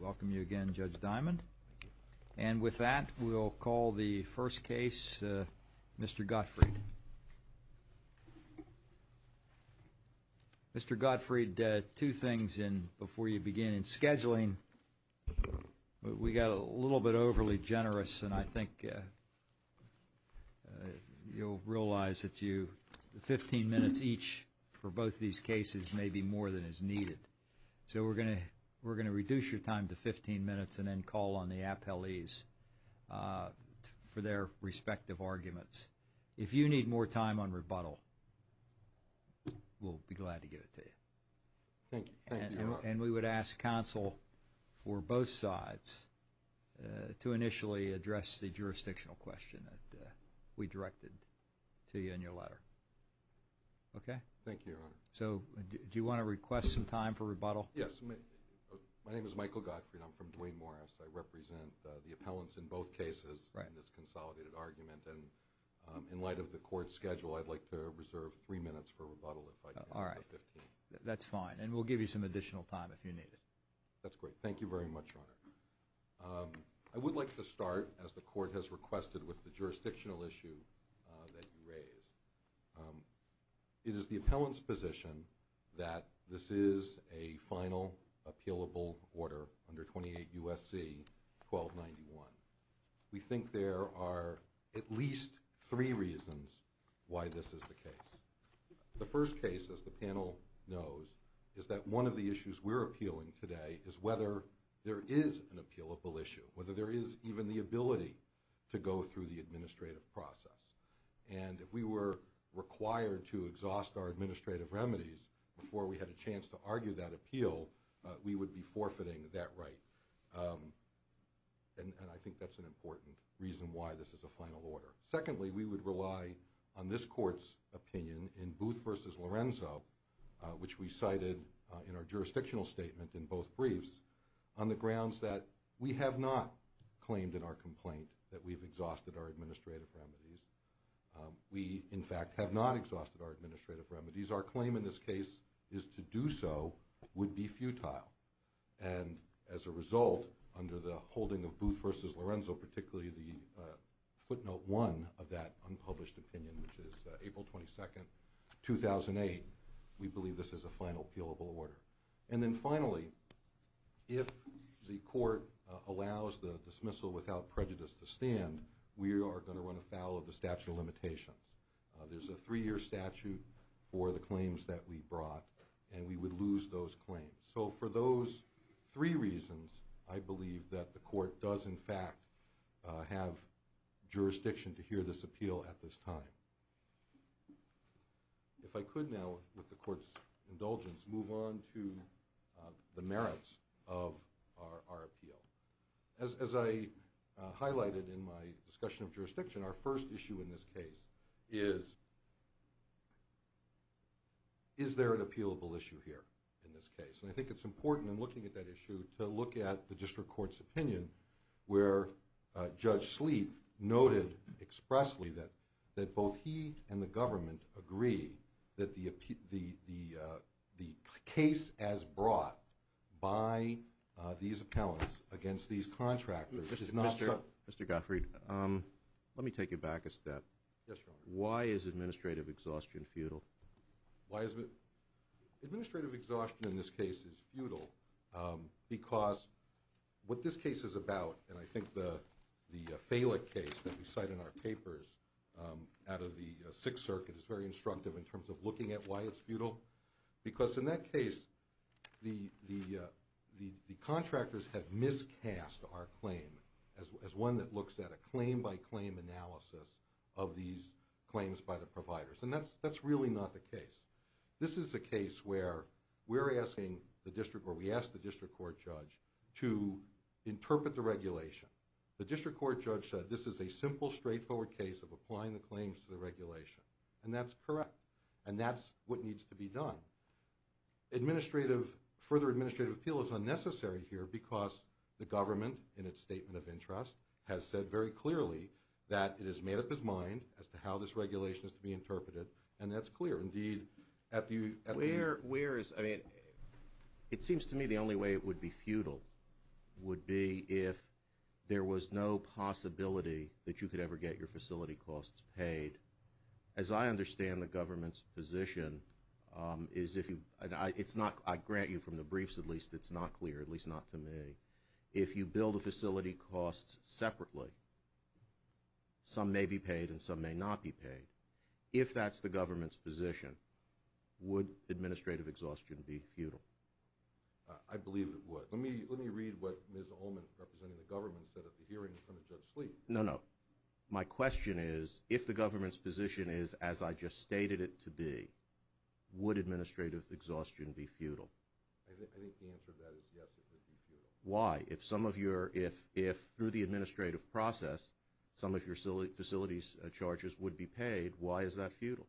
Welcome you again, Judge Diamond. And with that, we'll call the first case Mr. Gottfried. Mr. Gottfried, two things before you begin in scheduling. We got a little bit overly generous and I think you'll realize that you, 15 minutes each for both these cases may be more than is needed. So we're going to reduce your time to 15 minutes and then call on the appellees for their respective arguments. If you need more time on rebuttal, we'll be glad to give it to you. And we would ask counsel for both sides to initially address the jurisdictional question that we Thank you, Your Honor. So do you want to request some time for rebuttal? Yes. My name is Michael Gottfried. I'm from Duane Morris. I represent the appellants in both cases in this consolidated argument. And in light of the court's schedule, I'd like to reserve three minutes for rebuttal if I can. All right. That's fine. And we'll give you some additional time if you need it. That's great. Thank you very much, Your Honor. I would like to start, as the court has requested, with the jurisdictional issue that you raised. It is the appellant's position that this is a final appealable order under 28 U.S.C. 1291. We think there are at least three reasons why this is the case. The first case, as the panel knows, is that one of the issues we're appealing today is whether there is an appealable issue, whether there is even the ability to go through the administrative process. And if we were required to exhaust our administrative remedies before we had a chance to argue that appeal, we would be forfeiting that right. And I think that's an important reason why this is a final order. Secondly, we would rely on this court's opinion in Booth v. Lorenzo, which we cited in our complaint that we've exhausted our administrative remedies. We, in fact, have not exhausted our administrative remedies. Our claim in this case is to do so would be futile. And as a result, under the holding of Booth v. Lorenzo, particularly the footnote one of that unpublished opinion, which is April 22, 2008, we believe this is a final appealable order. And then finally, if the court allows the dismissal without prejudice to stand, we are going to run afoul of the statute of limitations. There's a three-year statute for the claims that we brought, and we would lose those claims. So for those three reasons, I believe that the court does, in fact, have jurisdiction to hear this appeal at this time. If I could now, with the court's indulgence, move on to the merits of our appeal. As I highlighted in my discussion of jurisdiction, our first issue in this case is, is there an appealable issue here in this case? And I think it's important in looking at that issue to look at the district court's opinion, where Judge Sleep noted expressly that both he and the government agree that the case as brought by these appellants against these contractors is not... Mr. Gottfried, let me take you back a step. Why is administrative exhaustion futile? Administrative exhaustion in this case is futile because what this case is about, and I think the Falick case that we cite in our papers out of the Sixth Circuit is very instructive in terms of looking at why it's futile, because in that case, the contractors have miscast our claim as one that looks at a claim-by-claim analysis of these claims by the providers. And that's really not the case. This is a case where we're asking the district, or we are asking the district court, to look at the claims to the regulation. The district court judge said, this is a simple, straightforward case of applying the claims to the regulation. And that's correct. And that's what needs to be done. Administrative, further administrative appeal is unnecessary here because the government, in its statement of interest, has said very clearly that it has made up its mind as to how this regulation is to be interpreted, and that's clear. Indeed, at the... Where is, I mean, it seems to me the only way it would be futile would be if there was no possibility that you could ever get your facility costs paid. As I understand the government's position is if you, and it's not, I grant you from the briefs at least, it's not clear, at least not to me. If you build a facility cost separately, some may be paid and some may not be paid, if that's the government's position, would administrative exhaustion be futile? I believe it would. Let me, let me read what Ms. Ullman, representing the government, said at the hearing in front of Judge Sleeve. No, no. My question is, if the government's position is as I just stated it to be, would administrative exhaustion be futile? I think the answer to that is yes, it would be futile. Why? If some of your, if through the administrative process some of your facility charges would be paid, why is that futile?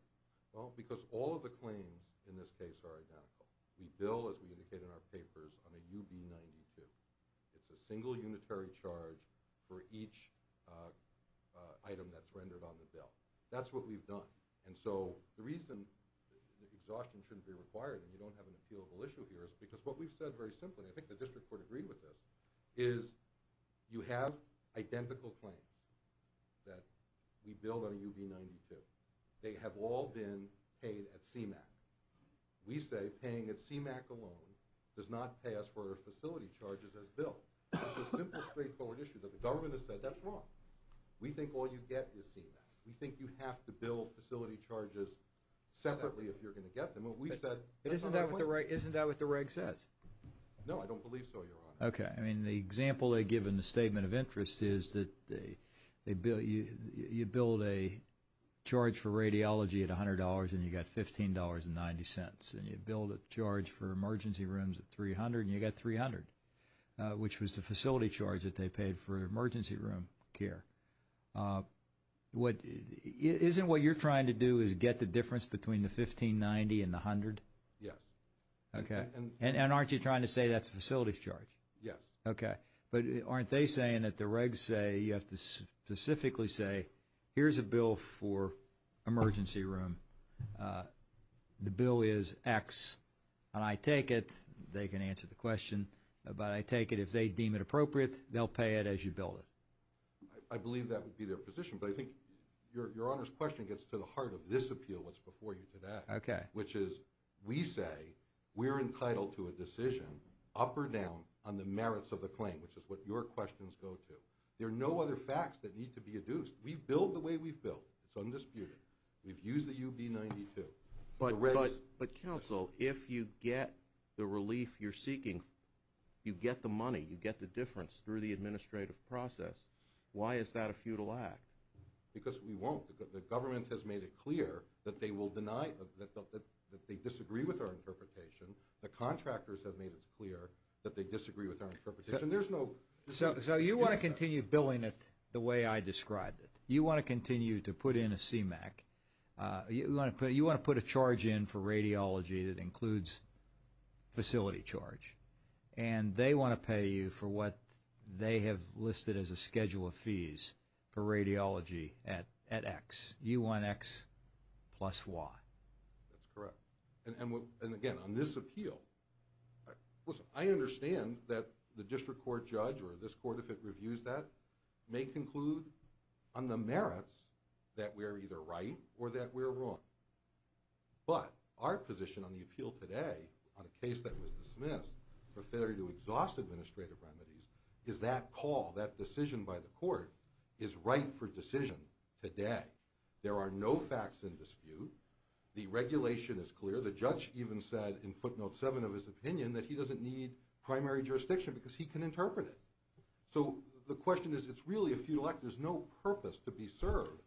Well, because all of the claims in this case are identical. We bill, as we indicated in our papers, on a UB-92. It's a single unitary charge for each item that's rendered on the bill. That's what we've done. And so the reason exhaustion shouldn't be required and you don't have an appealable issue here is because what we've said very clearly is you have identical claims that we bill on a UB-92. They have all been paid at CMAQ. We say paying at CMAQ alone does not pay us for our facility charges as bill. It's a simple, straightforward issue that the government has said, that's wrong. We think all you get is CMAQ. We think you have to bill facility charges separately if you're going to get them. And we've said, that's not our point. Isn't that what the reg, isn't it? The example they give in the Statement of Interest is that you bill a charge for radiology at $100 and you got $15.90. And you bill the charge for emergency rooms at $300 and you got $300, which was the facility charge that they paid for emergency room care. Isn't what you're trying to do is get the difference between the $15.90 and the $100? Yes. Okay. And aren't you trying to say that's the facility's charge? Yes. Okay. But aren't they saying that the regs say, you have to specifically say, here's a bill for emergency room. The bill is X. And I take it, they can answer the question, but I take it if they deem it appropriate, they'll pay it as you bill it. I believe that would be their position. But I think your Honor's question gets to the heart of this appeal, what's before you today. Okay. We say we're entitled to a decision up or down on the merits of the claim, which is what your questions go to. There are no other facts that need to be adduced. We've billed the way we've billed. It's undisputed. We've used the UB-92. But counsel, if you get the relief you're seeking, you get the money, you get the difference through the administrative process, why is that a futile act? Because we won't. The government has made it clear that they will deny, that they disagree with our interpretation. The contractors have made it clear that they disagree with our interpretation. So you want to continue billing it the way I described it. You want to continue to put in a CMAQ. You want to put a charge in for radiology that includes facility charge. And they want to pay you for what they have listed as a schedule of fees for radiology at X, U1X plus Y. That's correct. And again, on this appeal, listen, I understand that the district court judge or this court, if it reviews that, may conclude on the merits that we're either right or that we're wrong. But our position on the appeal today on a case that was dismissed for failure to exhaust administrative remedies is that call, that decision by the court, is right for decision today. There are no facts in dispute. The regulation is clear. The judge even said in footnote seven of his opinion that he doesn't need primary jurisdiction because he can interpret it. So the question is, it's really a futile act. There's no purpose to be served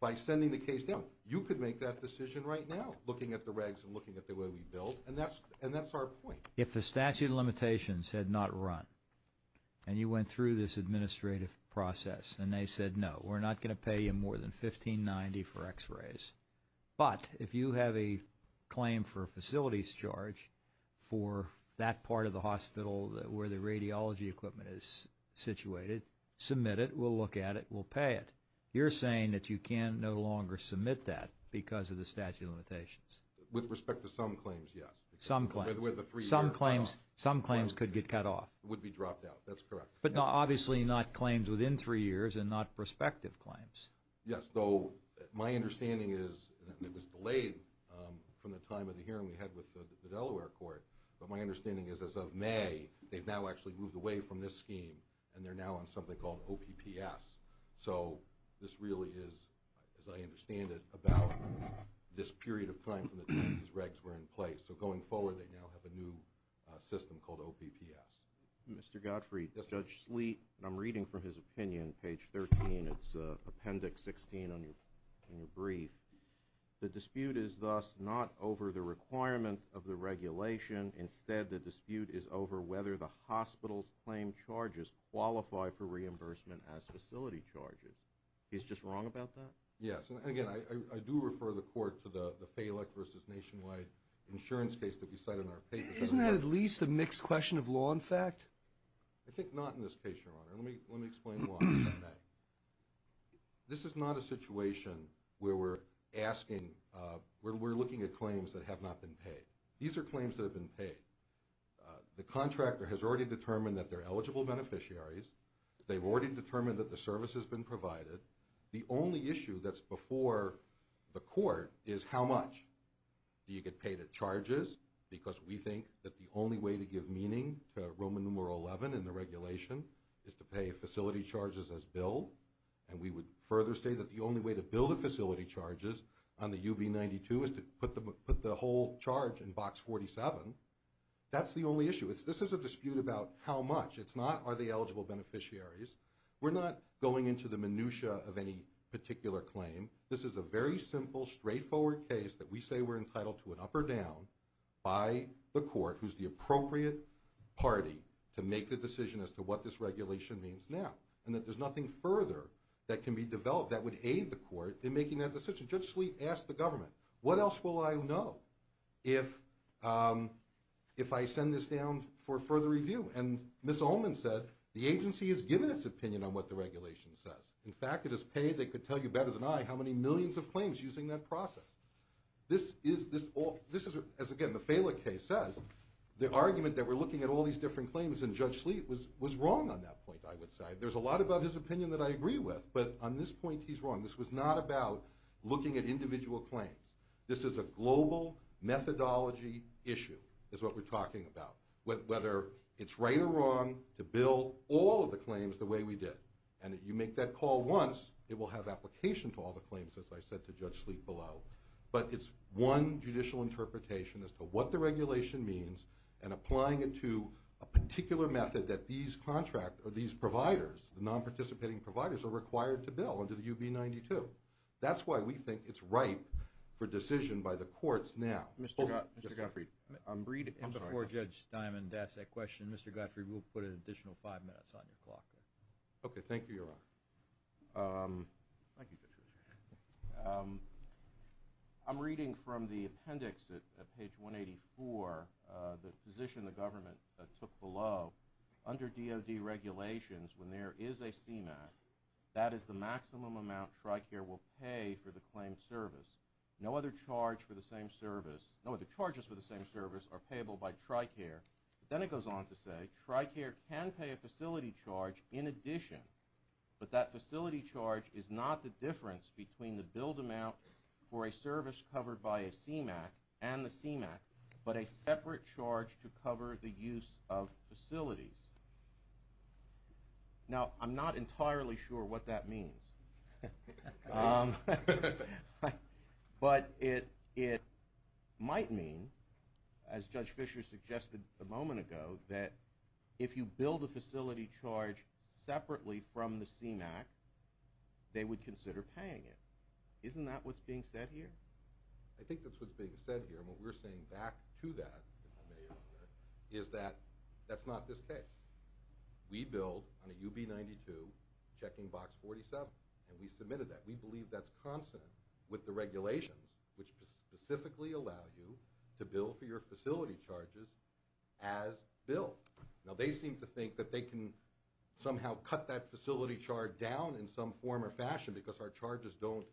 by sending the case down. You could make that decision right now looking at the regs and looking at the way we billed. And that's our point. If the statute of limitations had not run and you went through this administrative process and they said, no, we're not going to pay you more than $1590 for x-rays. But if you have a claim for a facilities charge for that part of the hospital where the radiology equipment is situated, submit it. We'll look at it. We'll pay it. You're saying that you can no longer submit that because of the some claims could get cut off. Would be dropped out. That's correct. But obviously not claims within three years and not prospective claims. Yes. So my understanding is it was delayed from the time of the hearing we had with the Delaware court. But my understanding is as of May, they've now actually moved away from this scheme and they're now on something called OPPS. So this really is, as I understand it, about this period of time from the time these regs were in system called OPPS. Mr. Godfrey, Judge Sleet, and I'm reading from his opinion, page 13, it's appendix 16 on your brief. The dispute is thus not over the requirement of the regulation. Instead, the dispute is over whether the hospital's claim charges qualify for reimbursement as facility charges. He's just wrong about that? Yes. And again, I do refer the court to the mixed question of law and fact. I think not in this case, Your Honor. Let me explain why. This is not a situation where we're looking at claims that have not been paid. These are claims that have been paid. The contractor has already determined that they're eligible beneficiaries. They've already determined that the service has been provided. The only issue that's before the court is how much do you get paid at charges because we think that the only way to give meaning to Roman numeral 11 in the regulation is to pay facility charges as bill. And we would further say that the only way to bill the facility charges on the UB92 is to put the whole charge in box 47. That's the only issue. This is a dispute about how much. It's not are eligible beneficiaries. We're not going into the minutia of any particular claim. This is a very simple, straightforward case that we say we're entitled to an up or down by the court who's the appropriate party to make the decision as to what this regulation means now. And that there's nothing further that can be developed that would aid the court in making that decision. Judge Sleet asked the government, what else will I know if I send this down for further review? And Ms. Ullman said, the agency has given its opinion on what the regulation says. In fact, it has paid, they could tell you better than I, how many millions of claims using that process. This is, as again, the Fela case says, the argument that we're looking at all these different claims, and Judge Sleet was wrong on that point, I would say. There's a lot about his opinion that I agree with, but on this point, he's wrong. This was not about looking at individual claims. This is a global methodology issue, is what we're talking about. Whether it's right or wrong to bill all of the claims the way we did. And if you make that call once, it will have application to all the claims, as I said to Judge Sleet below. But it's one judicial interpretation as to what the regulation means, and applying it to a particular method that these contract, or these providers, the non-participating providers, are required to bill under the UB 92. That's why we think it's ripe for decision by the I'm reading. Before Judge Diamond asks that question, Mr. Gottfried, we'll put an additional five minutes on your clock. Okay, thank you, Your Honor. Thank you. I'm reading from the appendix at page 184, the position the government took below. Under DOD regulations, when there is a CMAC, that is the maximum amount TRICARE will pay for the claim service. No other charge for the same service, no other charges for the same service are payable by TRICARE. Then it goes on to say, TRICARE can pay a facility charge in addition, but that facility charge is not the difference between the billed amount for a service covered by a CMAC and the CMAC, but a separate charge to cover the use of facilities. Now, I'm not entirely sure what that means. But it might mean, as Judge Fischer suggested a moment ago, that if you build a facility charge separately from the CMAC, they would consider paying it. Isn't that what's being said here? I think that's what's being said here, and what we're saying back to that, if I may, Your Honor, is that that's not this case. We billed on a UB92 checking box 47, and we submitted that. We believe that's constant with the regulations, which specifically allow you to bill for your facility charges as billed. Now, they seem to think that they can somehow cut that facility charge down in some form or fashion because our charges don't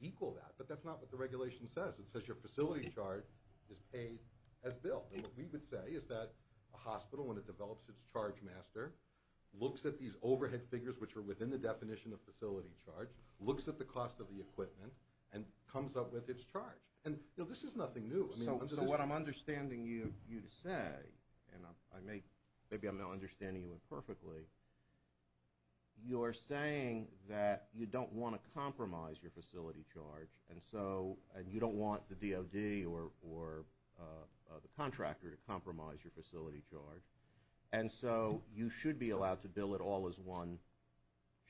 equal that, but that's not what the regulation says. It says your facility charge is paid as billed, and what we would say is that a hospital, when it develops its charge master, looks at these overhead figures, which are within the definition of facility charge, looks at the cost of the equipment, and comes up with its charge. And, you know, this is nothing new. So what I'm understanding you to say, and maybe I'm not understanding you imperfectly, you're saying that you don't want to compromise your facility charge, and you don't want the DOD or the contractor to compromise your facility charge, and so you should be allowed to bill it all as one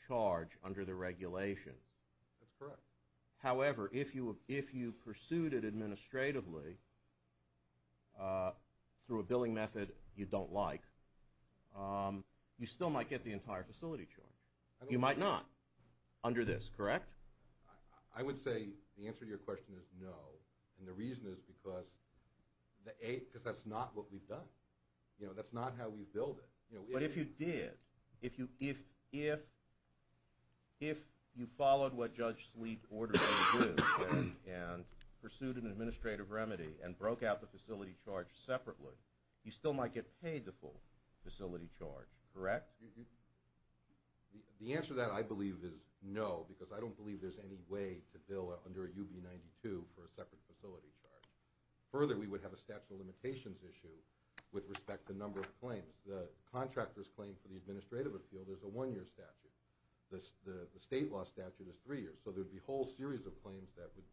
charge under the regulation. That's correct. However, if you pursued it administratively through a billing method you don't like, you still might get the entire facility charge. You might not under this, correct? I would say the answer to your question is no, and the reason is because that's not what we've done. You know, that's not how we billed it. But if you did, if you followed what Judge Sleet ordered and pursued an administrative remedy and broke out the facility charge separately, you still might get paid the full facility charge, correct? Yes. The answer to that, I believe, is no, because I don't believe there's any way to bill under a UB-92 for a separate facility charge. Further, we would have a statute of limitations issue with respect to number of claims. The contractor's claim for the administrative appeal is a one-year statute. The state law statute is three years. So there would be a whole series of claims that would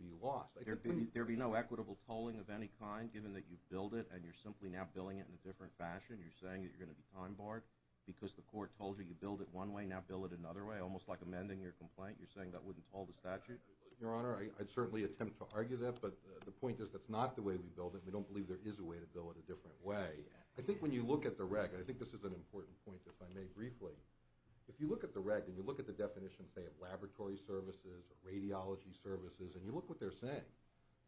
be lost. There would be no equitable tolling of any kind given that you've billed it, and you're simply now billing it in a different fashion. You're saying that you're going to be time-barred because the court told you you billed it one way, now bill it another way, almost like amending your complaint. You're saying that wouldn't toll the statute? Your Honor, I'd certainly attempt to argue that, but the point is that's not the way we billed it. We don't believe there is a way to bill it a different way. I think when you look at the reg, and I think this is an important point if I may briefly, if you look at the reg and you look at the definitions, say, of laboratory services or radiology services, and you look what they're saying,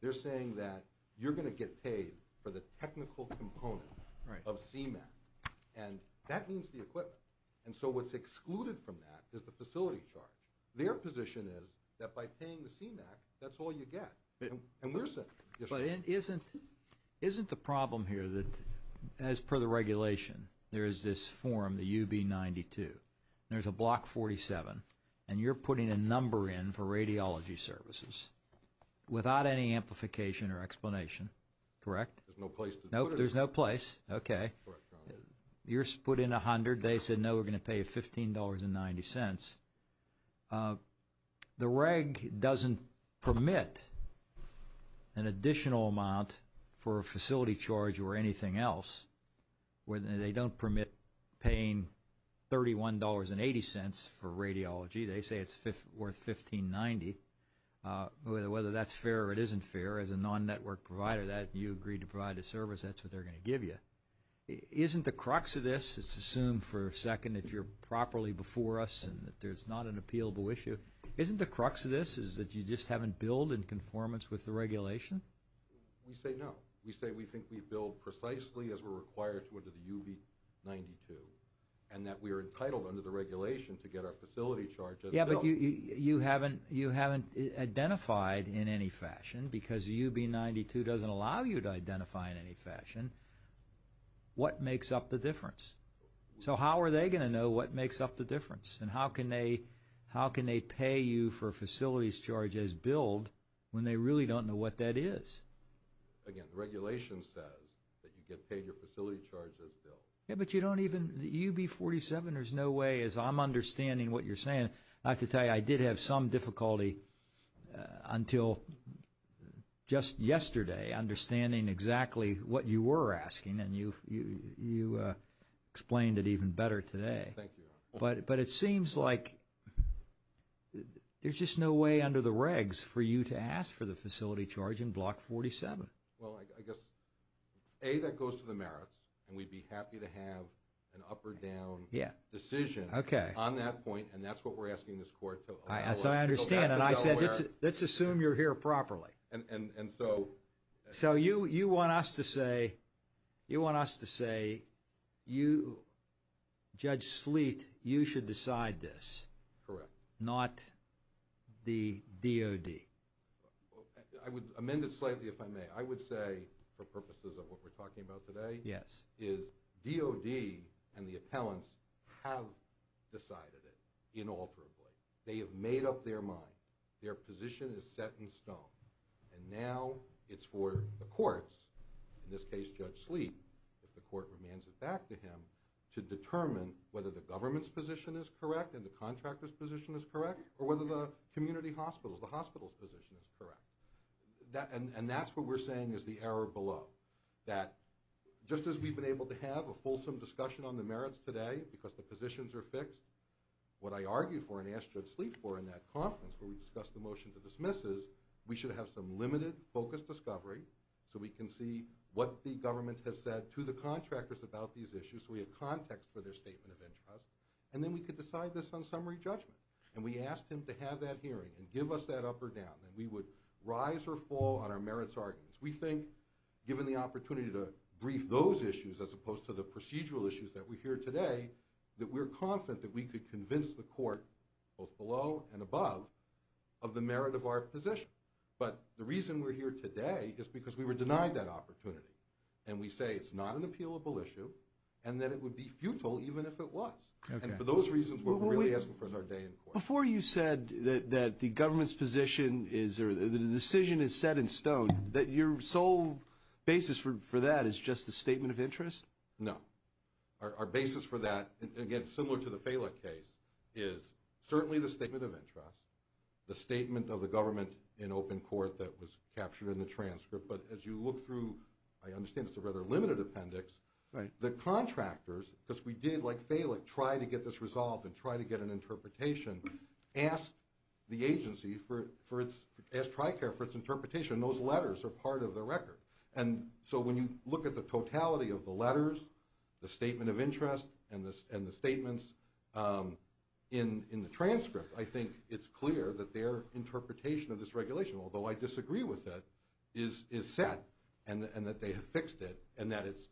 they're saying that you're going to get paid for the technical component of CMAQ, and that means the equipment. And so what's excluded from that is the facility charge. Their position is that by paying the CMAQ, that's all you get. Isn't the problem here that, as per the regulation, there is this form, the UB92, there's a block 47, and you're putting a number in for radiology services without any amplification or explanation, correct? There's no place to put it. Nope, there's no place. Okay. You're put in $100. They said, no, we're going to pay you $15.90. The reg doesn't permit an additional amount for a facility charge or anything else, where they don't permit paying $31.80 for radiology. They say it's worth $15.90. Whether that's fair or it isn't fair, as a non-network provider, that you agreed to provide a service, that's what they're going to give you. Isn't the crux of this, let's assume for a second that you're properly before us and that there's not an appealable issue, isn't the crux of this is that you just haven't billed in conformance with the regulation? We say no. We say we think we are entitled under the regulation to get our facility charges billed. Yeah, but you haven't identified in any fashion, because UB92 doesn't allow you to identify in any fashion, what makes up the difference. So how are they going to know what makes up the difference? And how can they pay you for facilities charges billed when they really don't know what that is? Again, the regulation says that you get paid your facility charges bill. Yeah, but you don't even, UB47, there's no way as I'm understanding what you're saying, I have to tell you, I did have some difficulty until just yesterday understanding exactly what you were asking and you explained it even better today. Thank you. But it seems like there's just no way under the regs for you to ask the facility charge in Block 47. Well, I guess, A, that goes to the merits and we'd be happy to have an up or down decision on that point and that's what we're asking this court to allow us. So I understand and I said, let's assume you're here properly. So you want us to say, you, Judge Sleet, you should decide this. Correct. Not the DOD. I would amend it slightly if I may. I would say, for purposes of what we're talking about today, is DOD and the appellants have decided it inalterably. They have made up their mind. Their position is set in stone and now it's for the courts, in this case Judge Sleet, if the court remains it back to him, to determine whether the government's position is correct and the contractor's position is correct or whether the community hospitals, the hospital's position is correct. And that's what we're saying is the error below. That just as we've been able to have a fulsome discussion on the merits today because the positions are fixed, what I argued for and asked Judge Sleet for in that conference where we discussed the motion to dismisses, we should have some limited focused discovery so we can see what the government has said to the contractors about these issues so we have context for their statement of interest. And then we could decide this on summary judgment. And we asked him to have that hearing and give us that up or down. And we would rise or fall on our merits arguments. We think, given the opportunity to brief those issues as opposed to the procedural issues that we hear today, that we're confident that we could convince the court both below and above of the merit of our position. But the reason we're here today is because we were denied that opportunity. And we say it's not an appealable issue and that it would be futile even if it was. And for those reasons, what we're really asking for is our day in court. Before you said that the government's position is or the decision is set in stone, that your sole basis for that is just a statement of interest? No. Our basis for that, again, similar to the Falick case, is certainly the statement of interest, the statement of the government in open court that was captured in the transcript. But as you look through, I understand it's a rather limited appendix. The contractors, because we did, like Falick, try to get this resolved and try to get an interpretation, asked the agency, asked TRICARE for its interpretation. Those letters are part of the record. And so when you look at the totality of the letters, the statement of interest, and the statements in the transcript, I think it's clear that their interpretation of this regulation, although I disagree with it, is set and that they have fixed it and that it's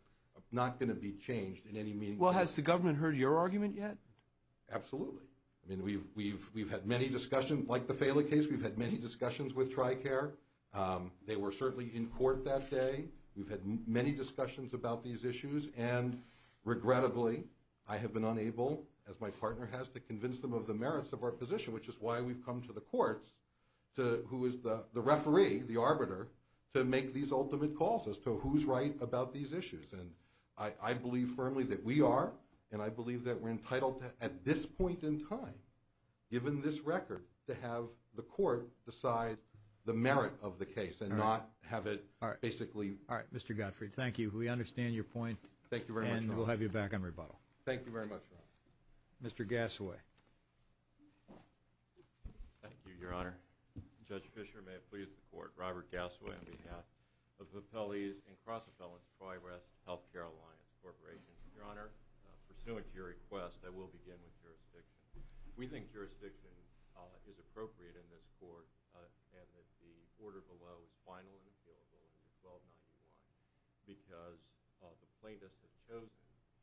not going to be changed in any meaningful way. Well, has the government heard your argument yet? Absolutely. I mean, we've had many discussions. Like the Falick case, we've had many discussions with TRICARE. They were certainly in court that day. We've had many discussions about these issues. And regrettably, I have been unable, as my partner has, to convince them of the merits of our position, which is why we've come to the courts, to who is the referee, the arbiter, to make these ultimate calls as to who's right about these issues. And I believe firmly that we are, and I believe that we're entitled to, at this point in time, given this record, to have the court decide the merit of the case and not have it basically... All right. Mr. Gottfried, thank you. We understand your point. Thank you very much, Your Honor. And we'll have you back on rebuttal. Thank you very much, Your Honor. Mr. Gassaway. Thank you, Your Honor. Judge Fischer, may it please the Court. Robert Gassaway on behalf of the Appellees and Cross-Appellants Tri-Rest Healthcare Alliance Corporation. Your Honor, pursuant to your request, I will begin with jurisdiction. We think jurisdiction is appropriate in this Court, and that the order below is final and available in 1291, because the plaintiffs have chosen,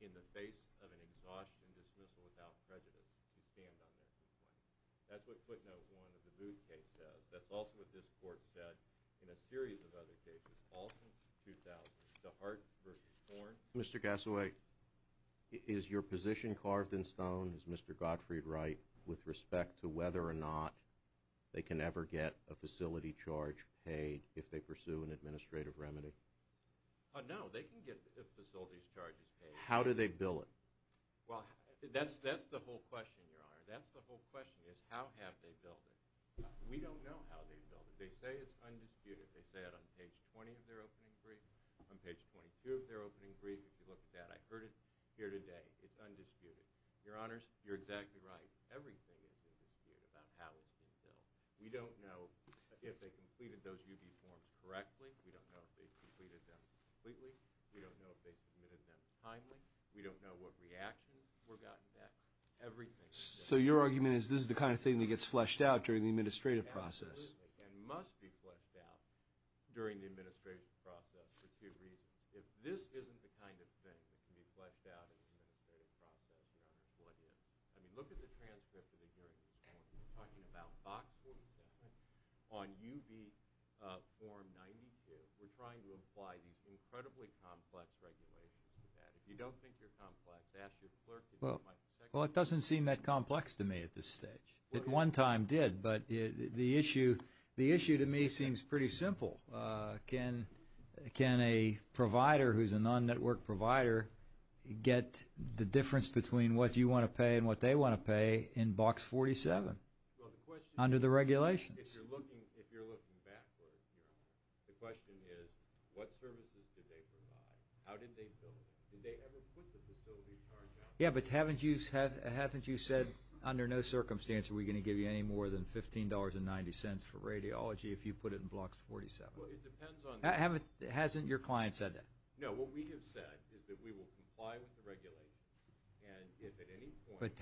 in the face of an exhaustion dismissal without prejudice, to stand on that complaint. That's what footnote 1 of the Booth case says. That's also what this Court said in a series of other cases, all since 2000. DeHart v. Horn. Mr. Gassaway, is your position carved in stone, is Mr. Gottfried right, with respect to whether or not they can ever get a facility charge paid if they pursue an administrative remedy? No, they can get facilities charges paid. How do they bill it? Well, that's the whole question, Your Honor. That's the whole question, is how have they billed it? We don't know how they billed it. They say it's undisputed. They say it on page 20 of their opening brief. On page 22 of their opening brief, if you look at that, I heard it here today. It's undisputed. Your Honors, you're exactly right. Everything is undisputed about how it's been billed. We don't know if they completed those UB forms correctly. We don't know if they completed them completely. We don't know if they submitted them timely. We don't know what reactions were gotten at. Everything is undisputed. So your argument is this is the kind of thing that gets fleshed out during the administrative process? And must be fleshed out during the administrative process for two reasons. If this isn't the kind of thing that can be fleshed out in the administrative process, Your Honor, what is? I mean, look at the transcript of the hearing this morning. We're talking about box 47 on UB form 92. We're trying to apply these incredibly complex regulations to that. If you don't think they're complex, ask your clerk. Well, it doesn't seem that complex to me at this stage. At one time, it did. But the issue to me seems pretty simple. Can a provider who's a non-network provider get the difference between what you want to pay and what they want to pay in box 47 under the regulations? If you're looking backwards, Your Honor, the question is what services did they provide? How did they bill it? Did they ever put the facility charge out? Yeah, but haven't you said under no circumstance are we going to give you more than $15.90 for radiology if you put it in box 47? Well, it depends on the... Hasn't your client said that? No. What we have said is that we will comply with the regulations and if at any point... But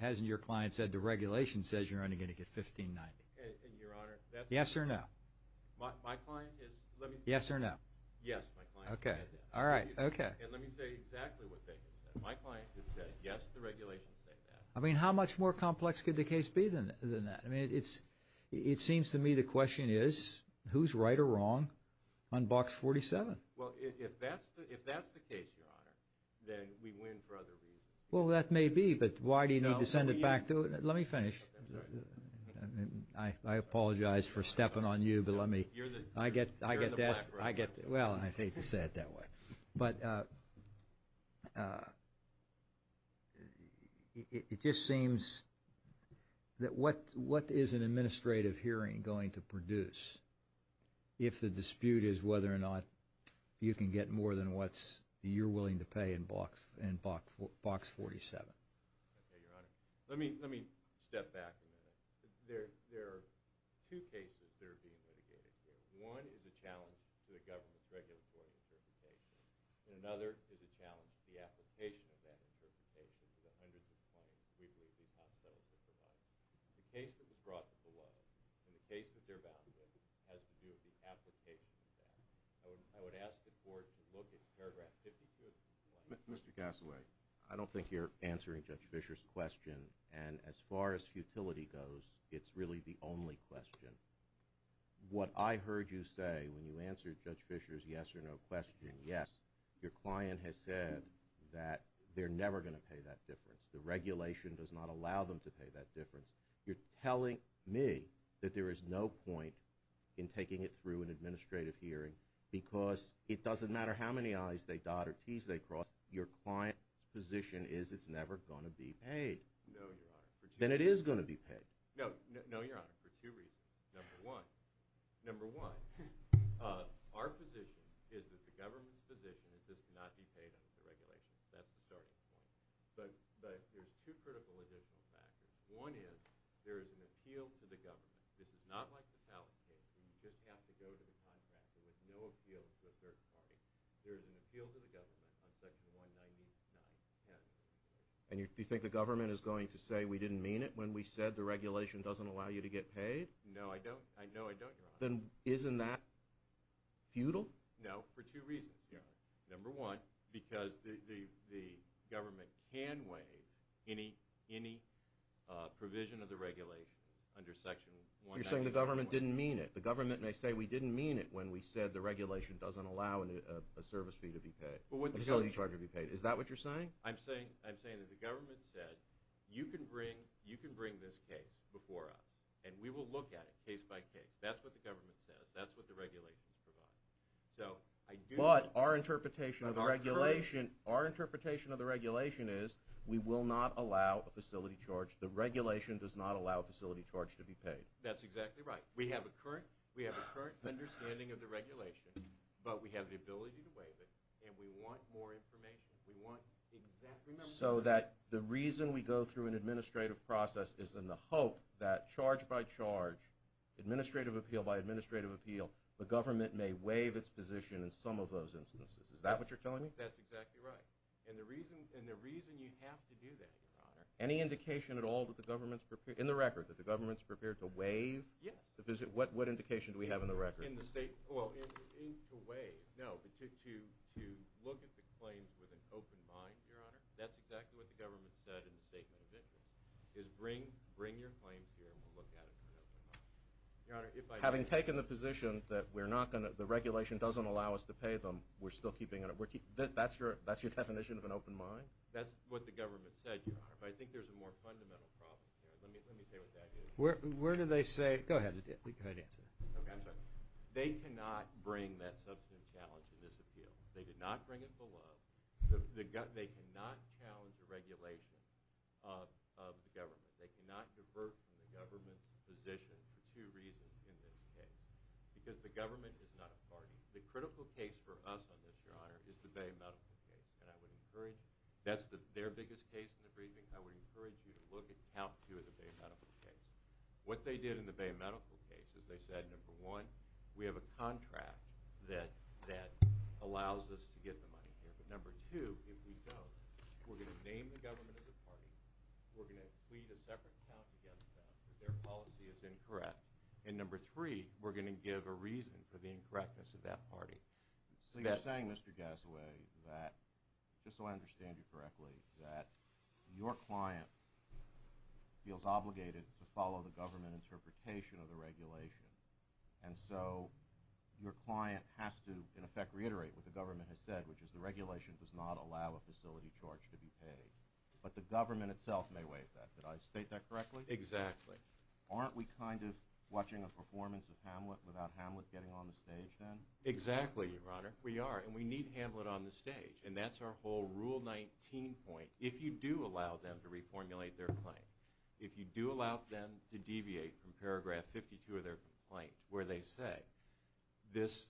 hasn't your client said the regulation says you're only going to get $15.90? And Your Honor, that's... Yes or no? My client is... Yes or no? Yes, my client has said that. All right. Okay. And let me say exactly what they have said. My client has said yes, the regulation says that. How much more complex could the case be than that? It seems to me the question is who's right or wrong on box 47? Well, if that's the case, Your Honor, then we win for other reasons. Well, that may be, but why do you need to send it back to... Let me finish. I apologize for stepping on you, but let me... You're in the black, right? Well, I hate to say it that way. But it just seems that what is an administrative hearing going to produce if the dispute is whether or not you can get more than what you're willing to pay in box 47? Okay, Your Honor. Let me step back a minute. There are two cases that are being litigated here. One is a challenge to the government's regulatory interpretation, and another is a challenge to the application of that interpretation to the hundreds of claims we believe the top sellers have provided. The case that was brought to the law and the case that they're bound with has to do with the application of that. I would ask the court to look at paragraph 52 of the complaint. Mr. Gassaway, I don't think you're answering Judge Fischer's question, and as far as futility goes, it's really the only question. What I heard you say when you answered Judge Fischer's yes or no question, yes, your client has said that they're never going to pay that difference. The regulation does not allow them to pay that difference. You're telling me that there is no point in taking it through an administrative hearing because it doesn't matter how many I's they dot or T's they cross, your client's position is it's never going to be paid. No, Your Honor. Then it is going to be paid. No, Your Honor, for two reasons. Number one, our position is that the government's position is this cannot be paid under the regulation. That's the starting point. But there's two critical additional factors. One is there is an appeal to the government. This is not like the pallet case where you just have to go to the contractor with no appeal to a third party. There is an appeal to the government on section 199.10. And you think the government is going to say we didn't mean it when we said the regulation doesn't allow you to get paid? No, I don't. I know I don't, Your Honor. Then isn't that futile? No, for two reasons, Your Honor. Number one, because the government can waive any provision of the regulation under section 199.10. You're saying the government didn't mean it. The government may say we didn't mean it when we said the regulation doesn't allow a service fee to be paid, a facility charge to be paid. Is that what you're saying? I'm saying that the government said you can bring this case before us and we will look at it case by case. That's what the government says. That's what the regulations provide. But our interpretation of the regulation is we will not allow a facility charge. The regulation does not allow a facility charge to be paid. That's exactly right. We have a current understanding of the regulation, but we have the ability to waive it. And we want more information. We want exactly more information. So that the reason we go through an administrative process is in the hope that charge by charge, administrative appeal by administrative appeal, the government may waive its position in some of those instances. Is that what you're telling me? That's exactly right. And the reason you have to do that, Your Honor. Any indication at all that the government's prepared, in the record, that the government's prepared to waive? Yes. What indication do we have in the record? In the state, well, to waive. No, but to look at the claims with an open mind, Your Honor. That's exactly what the government said in the statement of interest. Is bring your claims here and we'll look at it with an open mind. Your Honor, if I... Having taken the position that we're not going to, the regulation doesn't allow us to pay them, we're still keeping it, that's your definition of an open mind? That's what the government said, Your Honor. But I think there's a more fundamental problem here. Let me say what that is. Where do they say, go ahead, go ahead and answer. Okay, I'm sorry. They cannot bring that substantive challenge in this appeal. They did not bring it below. They cannot challenge the regulation of the government. They cannot divert from the government's position for two reasons in this case. Because the government is not a party. The critical case for us on this, Your Honor, is the Bay Medical case. And I would encourage, that's their biggest case in the briefing, I would encourage you to look at count two of the Bay Medical case. What they did in the Bay Medical case is they said, number one, we have a contract that allows us to get the money here. But number two, if we don't, we're going to name the government of the party, we're going to plead a separate count against them, that their policy is incorrect. And number three, we're going to give a reason for the incorrectness of that party. So you're saying, Mr. Gassaway, that, just so I understand you correctly, that your client feels obligated to follow the government interpretation of the regulation. And so your client has to, in effect, reiterate what the government has said, which is the regulation does not allow a facility charge to be paid. But the government itself may waive that. Did I state that correctly? Exactly. Aren't we kind of watching a performance of Hamlet without Hamlet getting on the stage then? Exactly, Your Honor. We are. And we need Hamlet on the stage. And that's our whole Rule 19 point. If you do allow them to reformulate their claim, if you do allow them to deviate from paragraph 52 of their complaint, where they say, this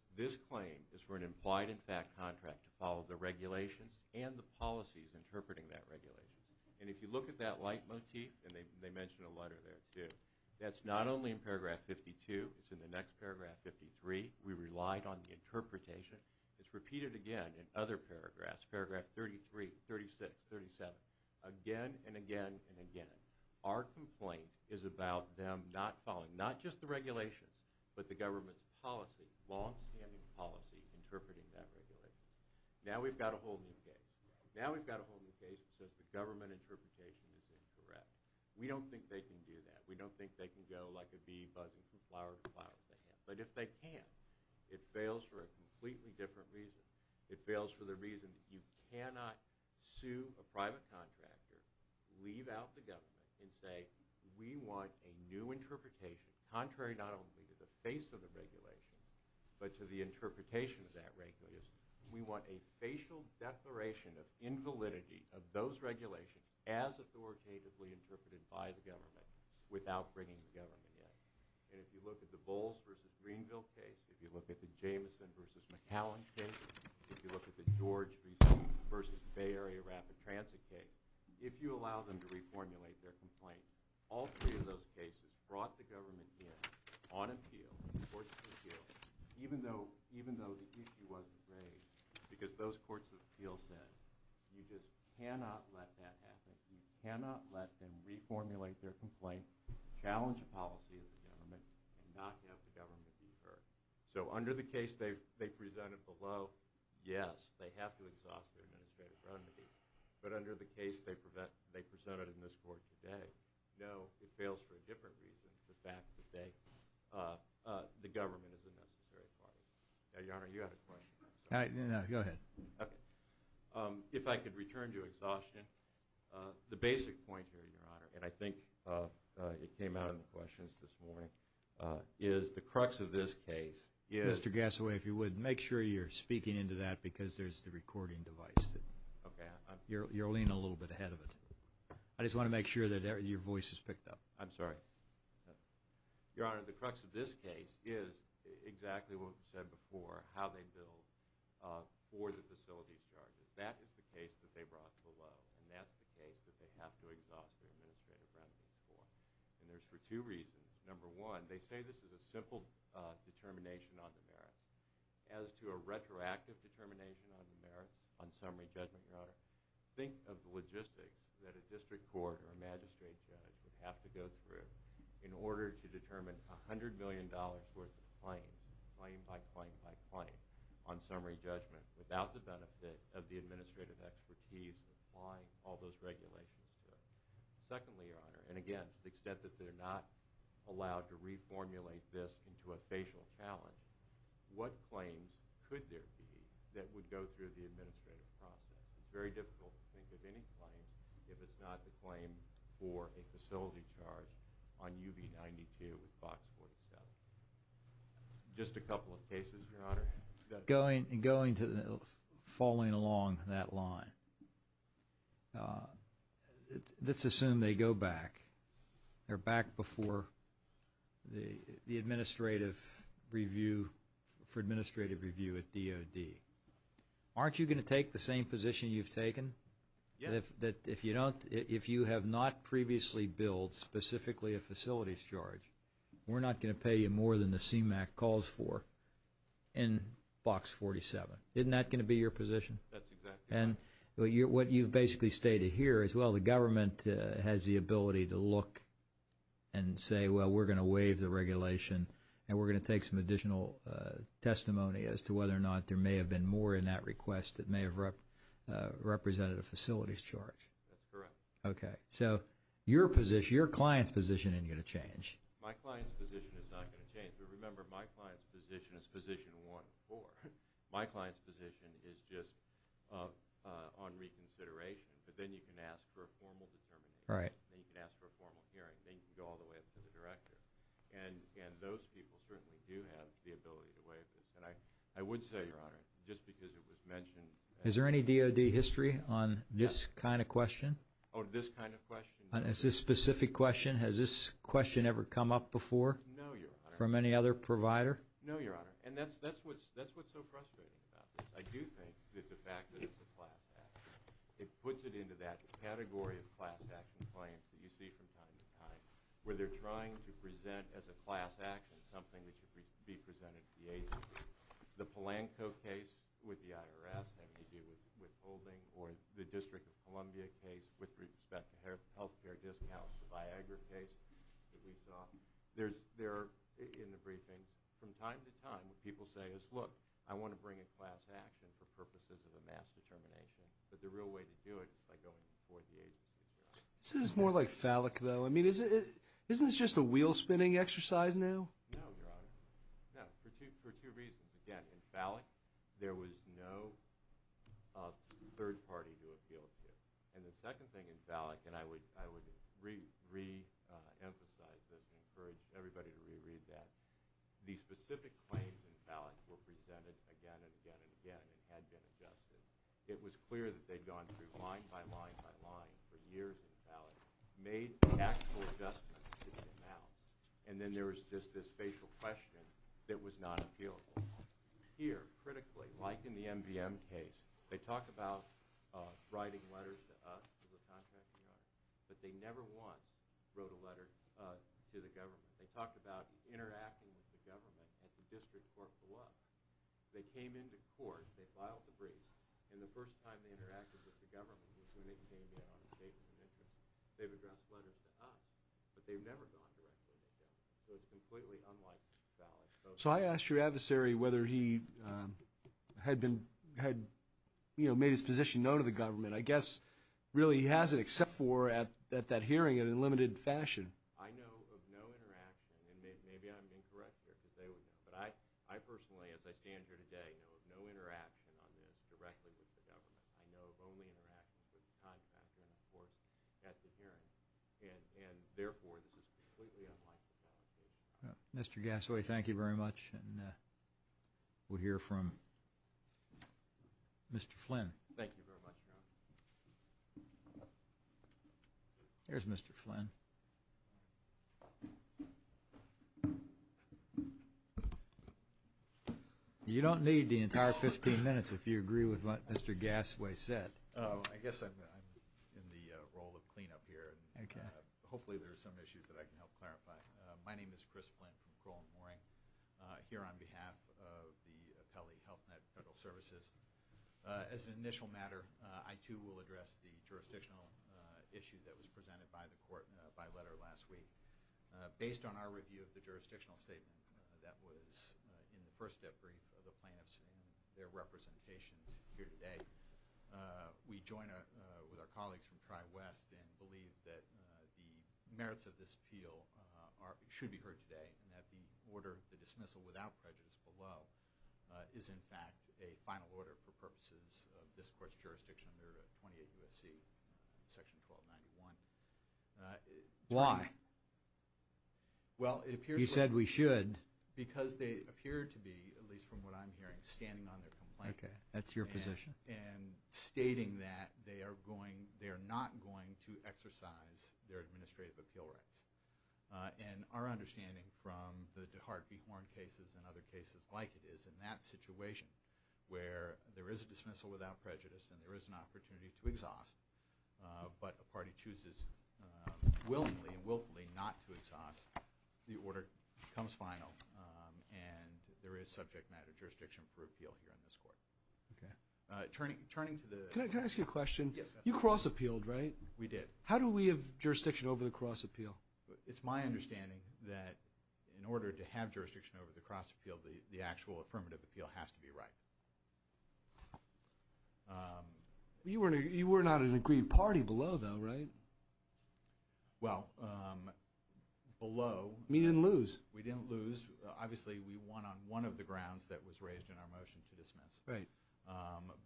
claim is for an implied and fact contract to follow the regulations and the policies interpreting that regulation. And if you look at that leitmotif, and they mentioned a letter there too, that's not only in paragraph 52, it's in the next paragraph 53. We relied on the interpretation. It's repeated again in other paragraphs, paragraph 33, 36, 37. Again, and again, and again. Our complaint is about them not following not just the regulations, but the government's policy, longstanding policy, interpreting that regulation. Now we've got a whole new case. Now we've got a whole new case that says the government interpretation is incorrect. We don't think they can do that. We don't think they can go like a bee buzzing from flower to flower. But if they can, it fails for a completely different reason. It fails for the reason that you cannot sue a private contractor, leave out the government, and say, we want a new interpretation, contrary not only to the face of the regulation, but to the interpretation of that regulation. We want a facial declaration of invalidity of those regulations as authoritatively interpreted by the government, without bringing the government in. And if you look at the Bowles versus Greenville case, if you look at the Jameson versus McAllen case, if you look at the George versus Bay Area Rapid Transit case, if you allow them to reformulate their complaint, all three of those cases brought the government in on appeal, the courts of appeal, even though the issue wasn't raised, because those courts of appeal said, you just cannot let that happen. You cannot let them reformulate their complaint, challenge the policy of the government, and not have the government be heard. Under the case they presented below, yes, they have to exhaust their administrative remedy. But under the case they presented in this court today, no, it fails for a different reason, the fact that the government is a necessary part of it. Now, Your Honor, you had a question. No, no, go ahead. If I could return to exhaustion, the basic point here, Your Honor, and I think it came out in the questions this morning, is the crux of this case is... Mr. Gassaway, if you would, make sure you're speaking into that because there's the recording device. Okay. You're leaning a little bit ahead of it. I just want to make sure that your voice is picked up. I'm sorry. Your Honor, the crux of this case is exactly what we said before, how they bill for the facility charges. That is the case that they brought below, and that's the case that they have to exhaust their administrative remedy for. And there's for two reasons. Number one, they say this is a simple determination on the merit. As to a retroactive determination on the merit, on summary judgment, Your Honor, think of the logistics that a district court or a magistrate judge would have to go through in order to determine $100 million worth of claim, claim by claim by claim, on summary judgment without the benefit of the administrative expertise of applying all those regulations to it. Secondly, Your Honor, and again, the extent that they're not allowed to reformulate this into a facial challenge, what claims could there be that would go through the administrative process? It's very difficult to think of any claim if it's not the claim for a facility charge on UB-92 with Box 47. Just a couple of cases, Your Honor. Going to the following along that line, let's assume they go back. They're back before the administrative review, for administrative review at DOD. Aren't you going to take the same position you've taken? If you don't, if you have not previously billed specifically a facilities charge, we're not going to pay you more than the CMAQ calls for in Box 47. Isn't that going to be your position? That's exactly it. What you've basically stated here is, well, the government has the ability to look and say, well, we're going to waive the regulation and we're going to take some additional testimony as to whether or not there may have been more in that request that may have represented a facilities charge. That's correct. Okay. So your position, your client's position isn't going to change. My client's position is not going to change. But remember, my client's position is position 1-4. My client's position is just on reconsideration. But then you can ask for a formal determination. Right. Then you can ask for a formal hearing. Then you can go all the way up to the director. And those people certainly do have the ability to waive this. And I would say, Your Honor, just because it was mentioned. Is there any DOD history on this kind of question? On this kind of question? Is this a specific question? Has this question ever come up before? No, Your Honor. From any other provider? No, Your Honor. And that's what's so frustrating about this. I do think that the fact that it's a class action. It puts it into that category of class action claims that you see from time to time. Where they're trying to present as a class action something that should be presented to the agency. The Polanco case with the IRS having to do with withholding. Or the District of Columbia case with respect to health care discounts. The Viagra case that we saw. They're in the briefing. From time to time, people say, look, I want to bring in class action for purposes of a mass determination. But the real way to do it is by going before the agency. This is more like phallic, though. I mean, isn't this just a wheel spinning exercise now? No, Your Honor. No, for two reasons. Again, in phallic, there was no third party to appeal to. And the second thing in phallic, and I would re-emphasize this and encourage everybody to reread that. The specific claims in phallic were presented again and again and again. It had been adjusted. It was clear that they'd gone through line by line by line for years in phallic. Made actual adjustments to the amount. And then there was just this facial question that was not appealable. Here, critically, like in the MVM case, they talk about writing letters to us. The contracting office. But they never once wrote a letter to the government. They talked about interacting with the government at the district court for what? They came into court. They filed the briefs. And the first time they interacted with the government was when they came in on a statement of interest. They've addressed letters to us. But they've never gone directly to the government. So it's completely unlike phallic. So I asked your adversary whether he had made his position known to the government. I guess, really, he hasn't except for at that hearing in a limited fashion. I know of no interaction. And maybe I'm incorrect here, because they would know. But I personally, as I stand here today, know of no interaction on this directly with the government. I know of only interactions with the contract and, of course, at the hearing. And therefore, this is completely unlike the phallic case. Mr. Gassaway, thank you very much. And we'll hear from Mr. Flynn. Thank you very much, Your Honor. Here's Mr. Flynn. You don't need the entire 15 minutes if you agree with what Mr. Gassaway said. Oh, I guess I'm in the role of cleanup here. Hopefully, there are some issues that I can help clarify. My name is Chris Flynn from Crowell & Mooring, here on behalf of the Appellee Health Net Federal Services. As an initial matter, I, too, will address the jurisdictional issue that was presented by the court by letter last week. Based on our review of the jurisdictional statement that was in the first debrief of the plaintiffs and their representations here today, we join with our colleagues from Tri-West and believe that the merits of this appeal should be heard today and that the order, the dismissal without prejudice below, is, in fact, a final order for purposes of this court's jurisdiction under 28 U.S.C. section 1291. Why? Well, it appears— You said we should. Because they appear to be, at least from what I'm hearing, standing on their complaint. Okay, that's your position. And stating that they are going—they are not going to exercise their administrative appeal rights. And our understanding from the DeHart v. Horn cases and other cases like it is, in that situation where there is a dismissal without prejudice and there is an opportunity to exhaust, but a party chooses willingly and willfully not to exhaust, the order becomes final and there is subject matter jurisdiction for appeal here in this court. Okay. Turning to the— Can I ask you a question? Yes. You cross-appealed, right? We did. How do we have jurisdiction over the cross-appeal? It's my understanding that in order to have jurisdiction over the cross-appeal, the actual affirmative appeal has to be right. You were not an aggrieved party below, though, right? Well, below— You didn't lose. We didn't lose. Obviously, we won on one of the grounds that was raised in our motion to dismiss. Right.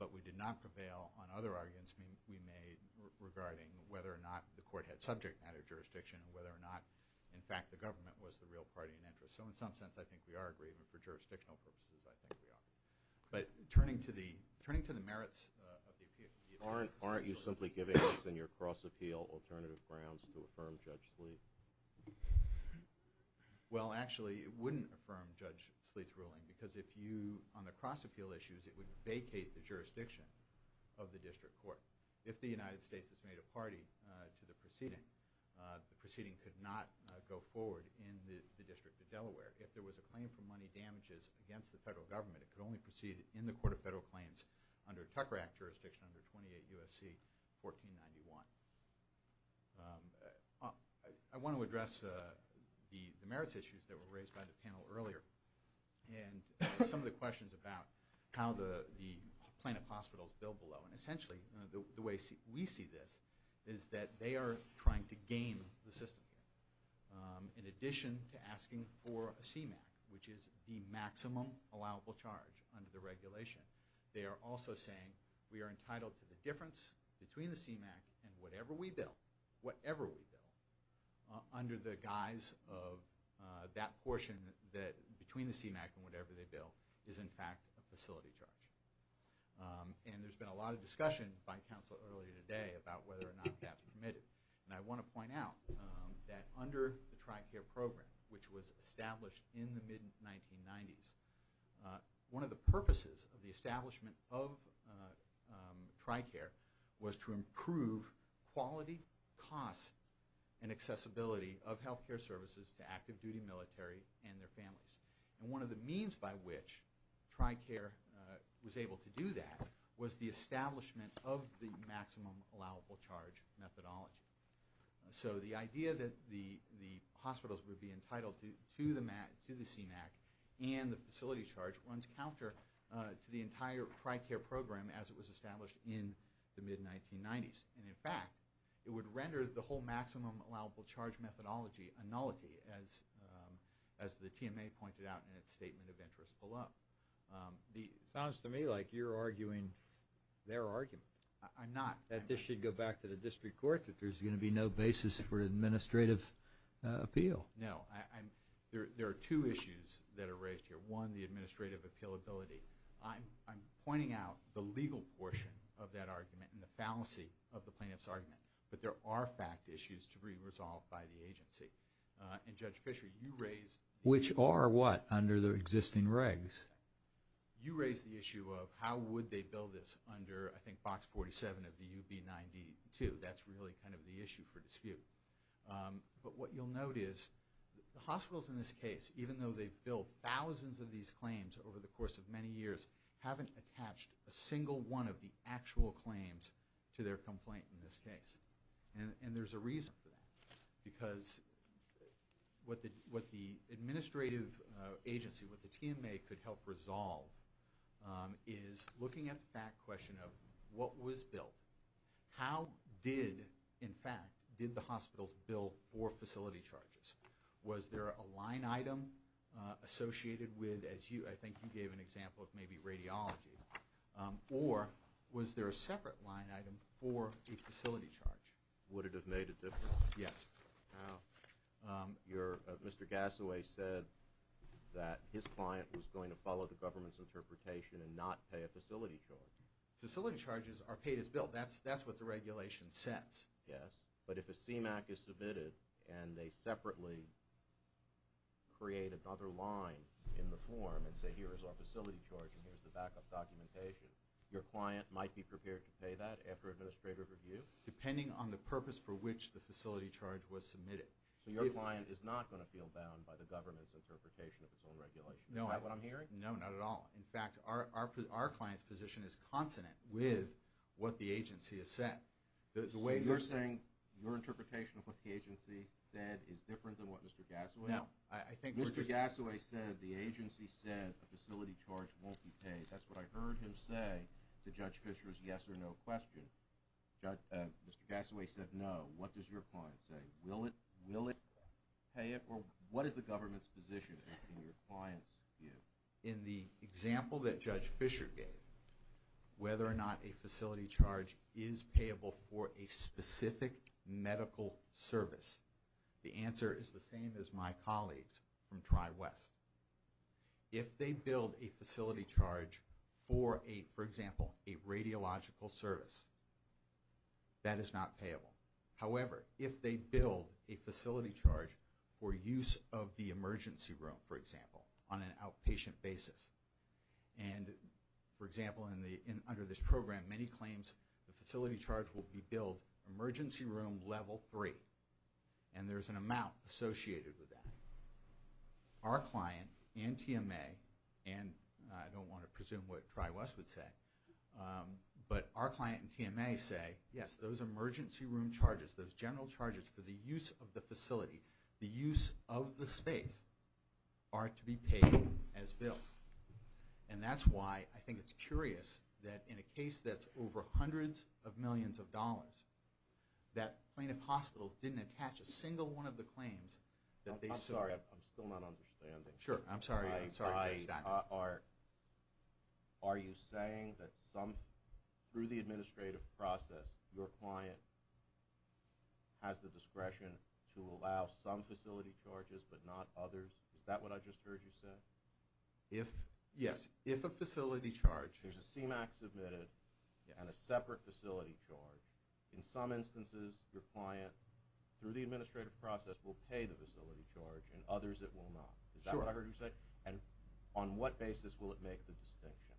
But we did not prevail on other arguments we made regarding whether or not the court had subject matter jurisdiction and whether or not, in fact, the government was the real party in interest. So in some sense, I think we are aggrieved, and for jurisdictional purposes, I think we are. But turning to the merits of the appeal— Aren't you simply giving us in your cross-appeal alternative grounds to affirm Judge Sleet? Well, actually, it wouldn't affirm Judge Sleet's ruling because if you—on the cross-appeal issues, it would vacate the jurisdiction of the district court. If the United States has made a party to the proceeding, the proceeding could not go forward in the District of Delaware. If there was a claim for money damages against the federal government, it could only proceed in the Court of Federal Claims under Tucker Act jurisdiction under 28 U.S.C. 1491. I want to address the merits issues that were raised by the panel earlier and some of the ways we see this is that they are trying to game the system. In addition to asking for a CMAQ, which is the maximum allowable charge under the regulation, they are also saying we are entitled to the difference between the CMAQ and whatever we bill, whatever we bill, under the guise of that portion that between the CMAQ and whatever they bill is, in fact, a facility charge. And there's been a lot of discussion by Council earlier today about whether or not that's permitted. And I want to point out that under the TRICARE program, which was established in the mid-1990s, one of the purposes of the establishment of TRICARE was to improve quality, cost, and accessibility of health care services to active-duty military and their families. And one of the means by which TRICARE was able to do that was the establishment of the maximum allowable charge methodology. So the idea that the hospitals would be entitled to the CMAQ and the facility charge runs counter to the entire TRICARE program as it was established in the mid-1990s. And, in fact, it would render the whole maximum allowable charge methodology a nullity, as the TMA pointed out in its statement of interest below. Sounds to me like you're arguing their argument. I'm not. That this should go back to the District Court, that there's going to be no basis for administrative appeal. No. There are two issues that are raised here. One, the administrative appealability. I'm pointing out the legal portion of that argument and the fallacy of the plaintiff's argument. But there are fact issues to be resolved by the agency. And, Judge Fischer, you raised… Which are what, under the existing regs? You raised the issue of how would they bill this under, I think, Box 47 of the UB92. That's really kind of the issue for dispute. But what you'll note is the hospitals in this case, even though they've billed thousands of these claims over the course of many years, haven't attached a single one of the actual claims to their complaint in this case. And there's a reason for that. Because what the administrative agency, what the TMA, could help resolve is looking at the fact question of what was billed. How did, in fact, did the hospitals bill for facility charges? Was there a line item associated with, as I think you gave an example of maybe radiology, or was there a separate line item for a facility charge? Would it have made a difference? Yes. Mr. Gassoway said that his client was going to follow the government's interpretation and not pay a facility charge. Facility charges are paid as billed. That's what the regulation says. Yes. But if a CMAQ is submitted and they separately create another line in the form and say, here is our facility charge and here is the backup documentation, your client might be prepared to pay that after administrative review? Depending on the purpose for which the facility charge was submitted. So your client is not going to feel bound by the government's interpretation of its own regulation. Is that what I'm hearing? No, not at all. In fact, our client's position is consonant with what the agency has said. The way you're saying your interpretation of what the agency said is different than what Mr. Gassoway said. No. That's what I heard him say to Judge Fisher's yes or no question. Mr. Gassoway said no. What does your client say? Will it pay it? Or what is the government's position in your client's view? In the example that Judge Fisher gave, whether or not a facility charge is payable for a specific medical service, the answer is the same as my colleagues from TriWest. If they build a facility charge for a, for example, a radiological service, that is not payable. However, if they build a facility charge for use of the emergency room, for example, on an outpatient basis, and for example, under this program, many claims the facility charge will be billed emergency room level three, and there's an amount associated with that. Our client and TMA, and I don't want to presume what TriWest would say, but our client and TMA say, yes, those emergency room charges, those general charges for the use of the facility, the use of the space, are to be paid as billed. And that's why I think it's curious that in a case that's over hundreds of millions of dollars, that plaintiff hospitals didn't attach a single one of the claims that they were paying. I'm sorry, I'm still not understanding. Sure, I'm sorry, I'm sorry to interrupt. Are you saying that some, through the administrative process, your client has the discretion to allow some facility charges, but not others? Is that what I just heard you say? If, yes, if a facility charge, there's a CMAQ submitted and a separate facility charge, in some instances, your client, through the administrative process, will pay the facility charge, in others it will not. Is that what I heard you say? Sure. And on what basis will it make the distinction?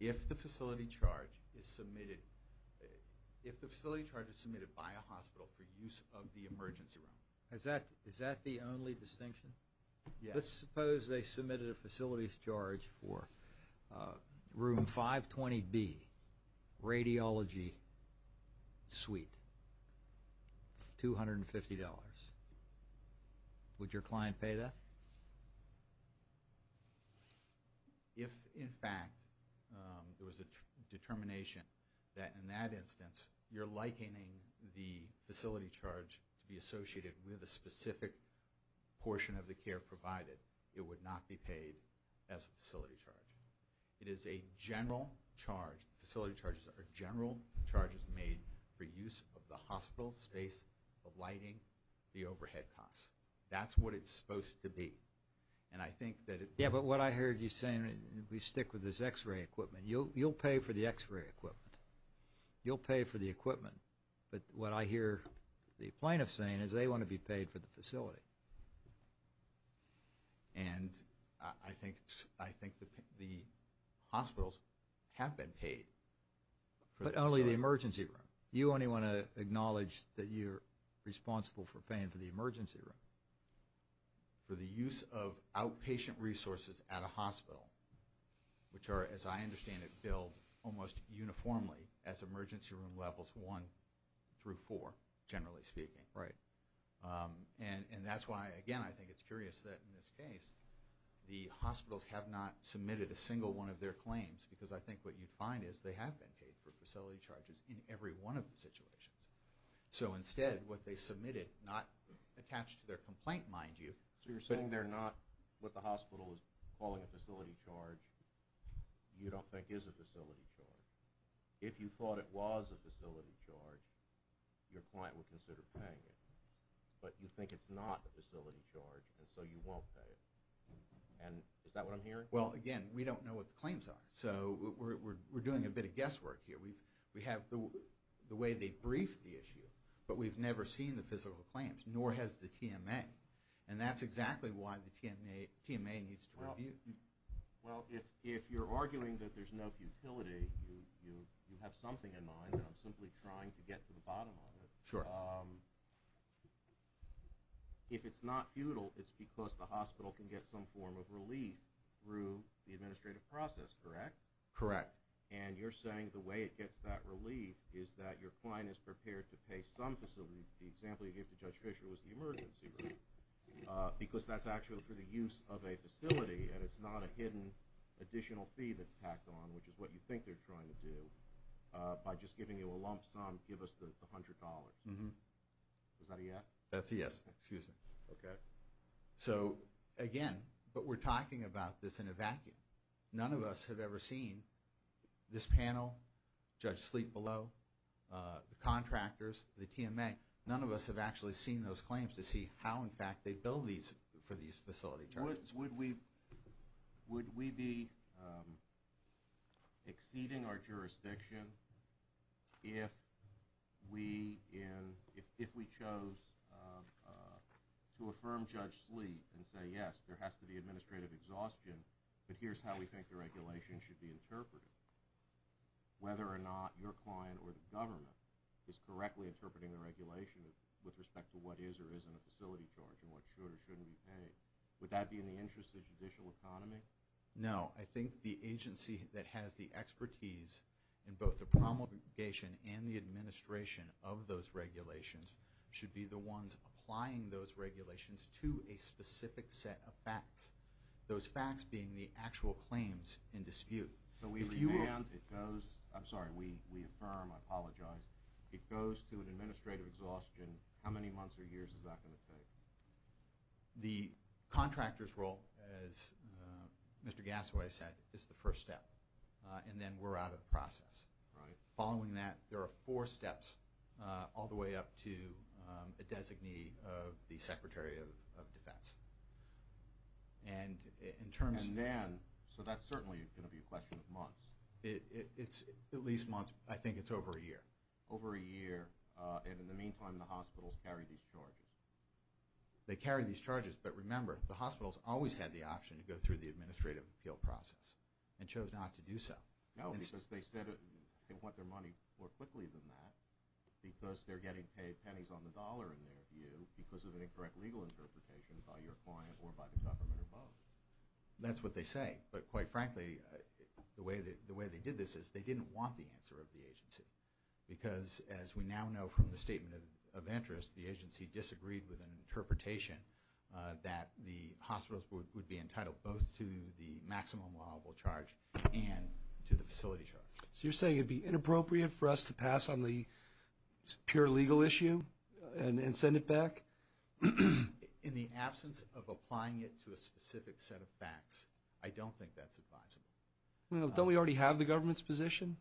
If the facility charge is submitted, if the facility charge is submitted by a hospital for use of the emergency room. Is that, is that the only distinction? Yes. Let's suppose they submitted a facility charge for room 520B, radiology suite, $250, would your client pay that? If, in fact, there was a determination that, in that instance, you're likening the facility charge to be associated with a specific portion of the care provided, it would not be paid as a facility charge. It is a general charge, facility charges are general charges made for use of the hospital space of lighting, the overhead costs. That's what it's supposed to be. And I think that it. Yeah, but what I heard you saying, we stick with this x-ray equipment. You'll, you'll pay for the x-ray equipment. You'll pay for the equipment. But what I hear the plaintiff saying is they want to be paid for the facility. And I think, I think the hospitals have been paid. But only the emergency room. You only want to acknowledge that you're responsible for paying for the emergency room. For the use of outpatient resources at a hospital, which are, as I understand it, billed almost uniformly as emergency room levels one through four, generally speaking. Right. And that's why, again, I think it's curious that in this case, the hospitals have not submitted a single one of their claims because I think what you find is they have been paid for facility charges in every one of the situations. So instead, what they submitted, not attached to their complaint, mind you. So you're saying they're not, what the hospital is calling a facility charge, you don't think is a facility charge. If you thought it was a facility charge, your client would consider paying it. But you think it's not a facility charge, and so you won't pay it. And is that what I'm hearing? Well, again, we don't know what the claims are. So we're doing a bit of guesswork here. We have the way they brief the issue, but we've never seen the physical claims, nor has the TMA. And that's exactly why the TMA needs to review. Well, if you're arguing that there's no futility, you have something in mind, and I'm simply trying to get to the bottom of it. Sure. If it's not futile, it's because the hospital can get some form of relief through the administrative process, correct? Correct. And you're saying the way it gets that relief is that your client is prepared to pay some facility, the example you gave to Judge Fisher was the emergency room, because that's actually for the use of a facility, and it's not a hidden additional fee that's tacked on, which is what you think they're trying to do, by just giving you a lump sum, give us the $100. Is that a yes? That's a yes. Excuse me. Okay. So, again, but we're talking about this in a vacuum. None of us have ever seen this panel, Judge Sleep below, the contractors, the TMA, none of us have actually seen those claims to see how, in fact, they bill for these facility charges. Would we be exceeding our jurisdiction if we chose to affirm Judge Sleep and say, yes, there has to be administrative exhaustion, but here's how we think the regulation should be interpreted? Whether or not your client or the government is correctly interpreting the regulation with respect to what is or isn't a facility charge and what should or shouldn't be paid, would that be in the interest of the judicial economy? No. I think the agency that has the expertise in both the promulgation and the administration of those regulations should be the ones applying those regulations to a specific set of facts, those facts being the actual claims in dispute. So we revamped, it goes, I'm sorry, we affirm, I apologize, it goes to an administrative exhaustion. How many months or years is that going to take? The contractor's role, as Mr. Gassoway said, is the first step, and then we're out of the process. Right. There are four steps all the way up to a designee of the Secretary of Defense. So that's certainly going to be a question of months. At least months. I think it's over a year. Over a year, and in the meantime, the hospitals carry these charges. They carry these charges, but remember, the hospitals always had the option to go through the administrative appeal process and chose not to do so. No, because they said they want their money more quickly than that, because they're getting paid pennies on the dollar in their view because of an incorrect legal interpretation by your client or by the government or both. That's what they say. But quite frankly, the way they did this is they didn't want the answer of the agency, because as we now know from the statement of interest, the agency disagreed with an interpretation that the hospitals would be entitled both to the maximum liable charge and to the facility charge. So you're saying it'd be inappropriate for us to pass on the pure legal issue and send it back? In the absence of applying it to a specific set of facts, I don't think that's advisable. Don't we already have the government's position?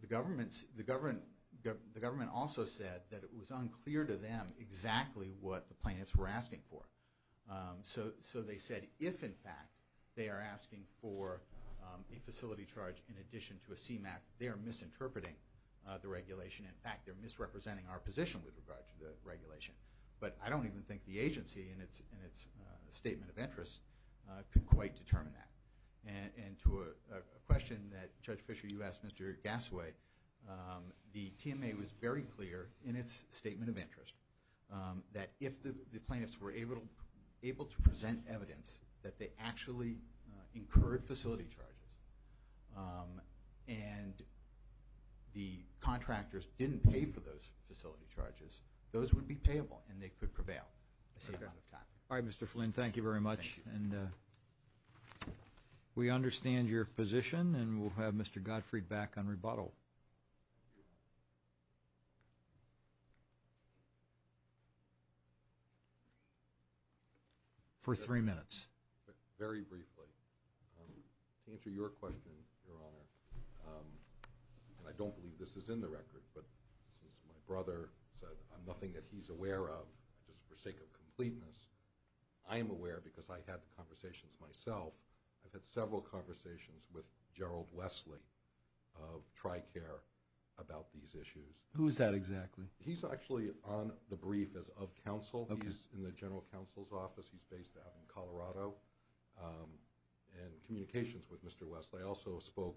The government also said that it was unclear to them exactly what the plaintiffs were asking for. So they said if, in fact, they are asking for a facility charge in addition to a CMAQ, they are misinterpreting the regulation. In fact, they're misrepresenting our position with regard to the regulation. But I don't even think the agency in its statement of interest could quite determine that. And to a question that Judge Fisher, you asked Mr. Gassaway, the TMA was very clear in its statement of interest that if the plaintiffs were able to present evidence that they actually incurred facility charges and the contractors didn't pay for those facility charges, those would be payable and they could prevail. All right, Mr. Flynn, thank you very much. And we understand your position and we'll have Mr. Godfrey back on rebuttal. For three minutes. Very briefly. To answer your question, Your Honor, and I don't believe this is in the record, but since my brother said I'm nothing that he's aware of, just for sake of completeness, I am aware because I had the conversations myself. I've had several conversations with Gerald Wesley of TRICARE about these issues. Who is that exactly? He's actually on the brief as of counsel. He's in the general counsel's office. He's based out in Colorado and communications with Mr. Wesley. I also spoke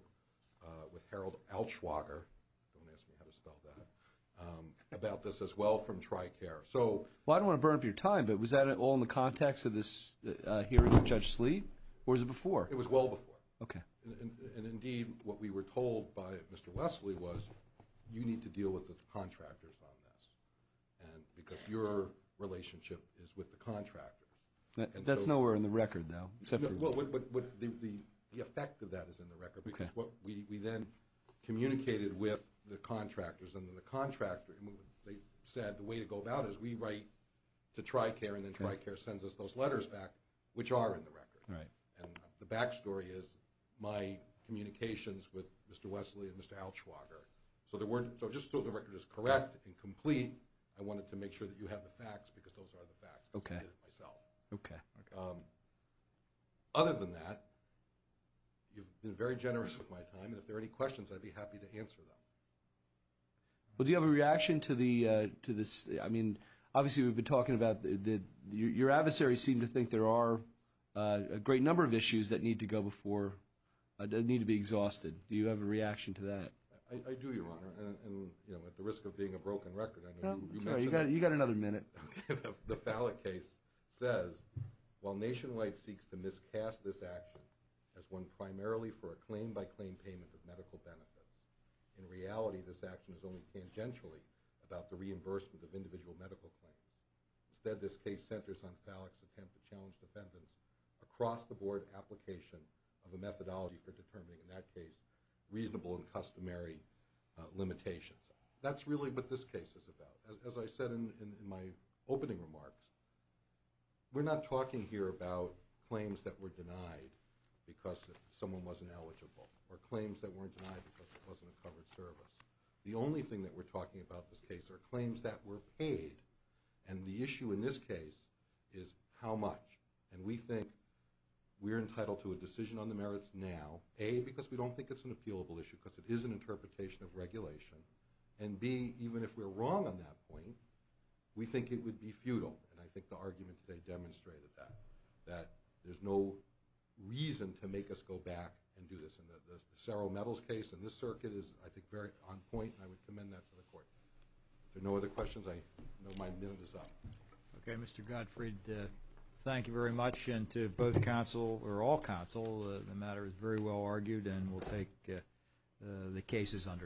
with Harold Altschwager, don't ask me how to spell that, about this as well from TRICARE. So... Well, I don't want to burn up your time, but was that all in the context of this hearing with Judge Sleet or was it before? It was well before. Okay. And indeed, what we were told by Mr. Wesley was you need to deal with the contractors on this and because your relationship is with the contractors. That's nowhere in the record though, except for... Well, the effect of that is in the record because what we then communicated with the contractors and then the contractor, they said the way to go about it is we write to TRICARE and then TRICARE sends us those letters back, which are in the record. Right. And the backstory is my communications with Mr. Wesley and Mr. Altschwager. So just so the record is correct and complete, I wanted to make sure that you have the facts because those are the facts because I did it myself. Okay. Other than that, you've been very generous with my time and if there are any questions, I'd be happy to answer them. Well, do you have a reaction to this? I mean, obviously, we've been talking about your adversaries seem to think there are a great number of issues that need to go before, that need to be exhausted. Do you have a reaction to that? I do, Your Honor, and at the risk of being a broken record, I know you mentioned that. You got another minute. The Fallick case says, while Nationwide seeks to miscast this action as one primarily for a claim-by-claim payment of medical benefits, in reality, this action is only tangentially about the reimbursement of individual medical claims. Instead, this case centers on Fallick's attempt to challenge defendants across the board application of a methodology for determining, in that case, reasonable and customary limitations. That's really what this case is about. As I said in my opening remarks, we're not talking here about claims that were denied because someone wasn't eligible or claims that weren't denied because it wasn't a covered service. The only thing that we're talking about in this case are claims that were paid and the on the merits now, A, because we don't think it's an appealable issue because it is an interpretation of regulation, and B, even if we're wrong on that point, we think it would be futile, and I think the argument today demonstrated that, that there's no reason to make us go back and do this. And the Saro-Meadows case in this circuit is, I think, very on point, and I would commend that to the Court. If there are no other questions, I know my minute is up. Okay, Mr. Gottfried, thank you very much. And to both counsel, or all counsel, the matter is very well argued and we'll take the cases under advisement. Thank you very much.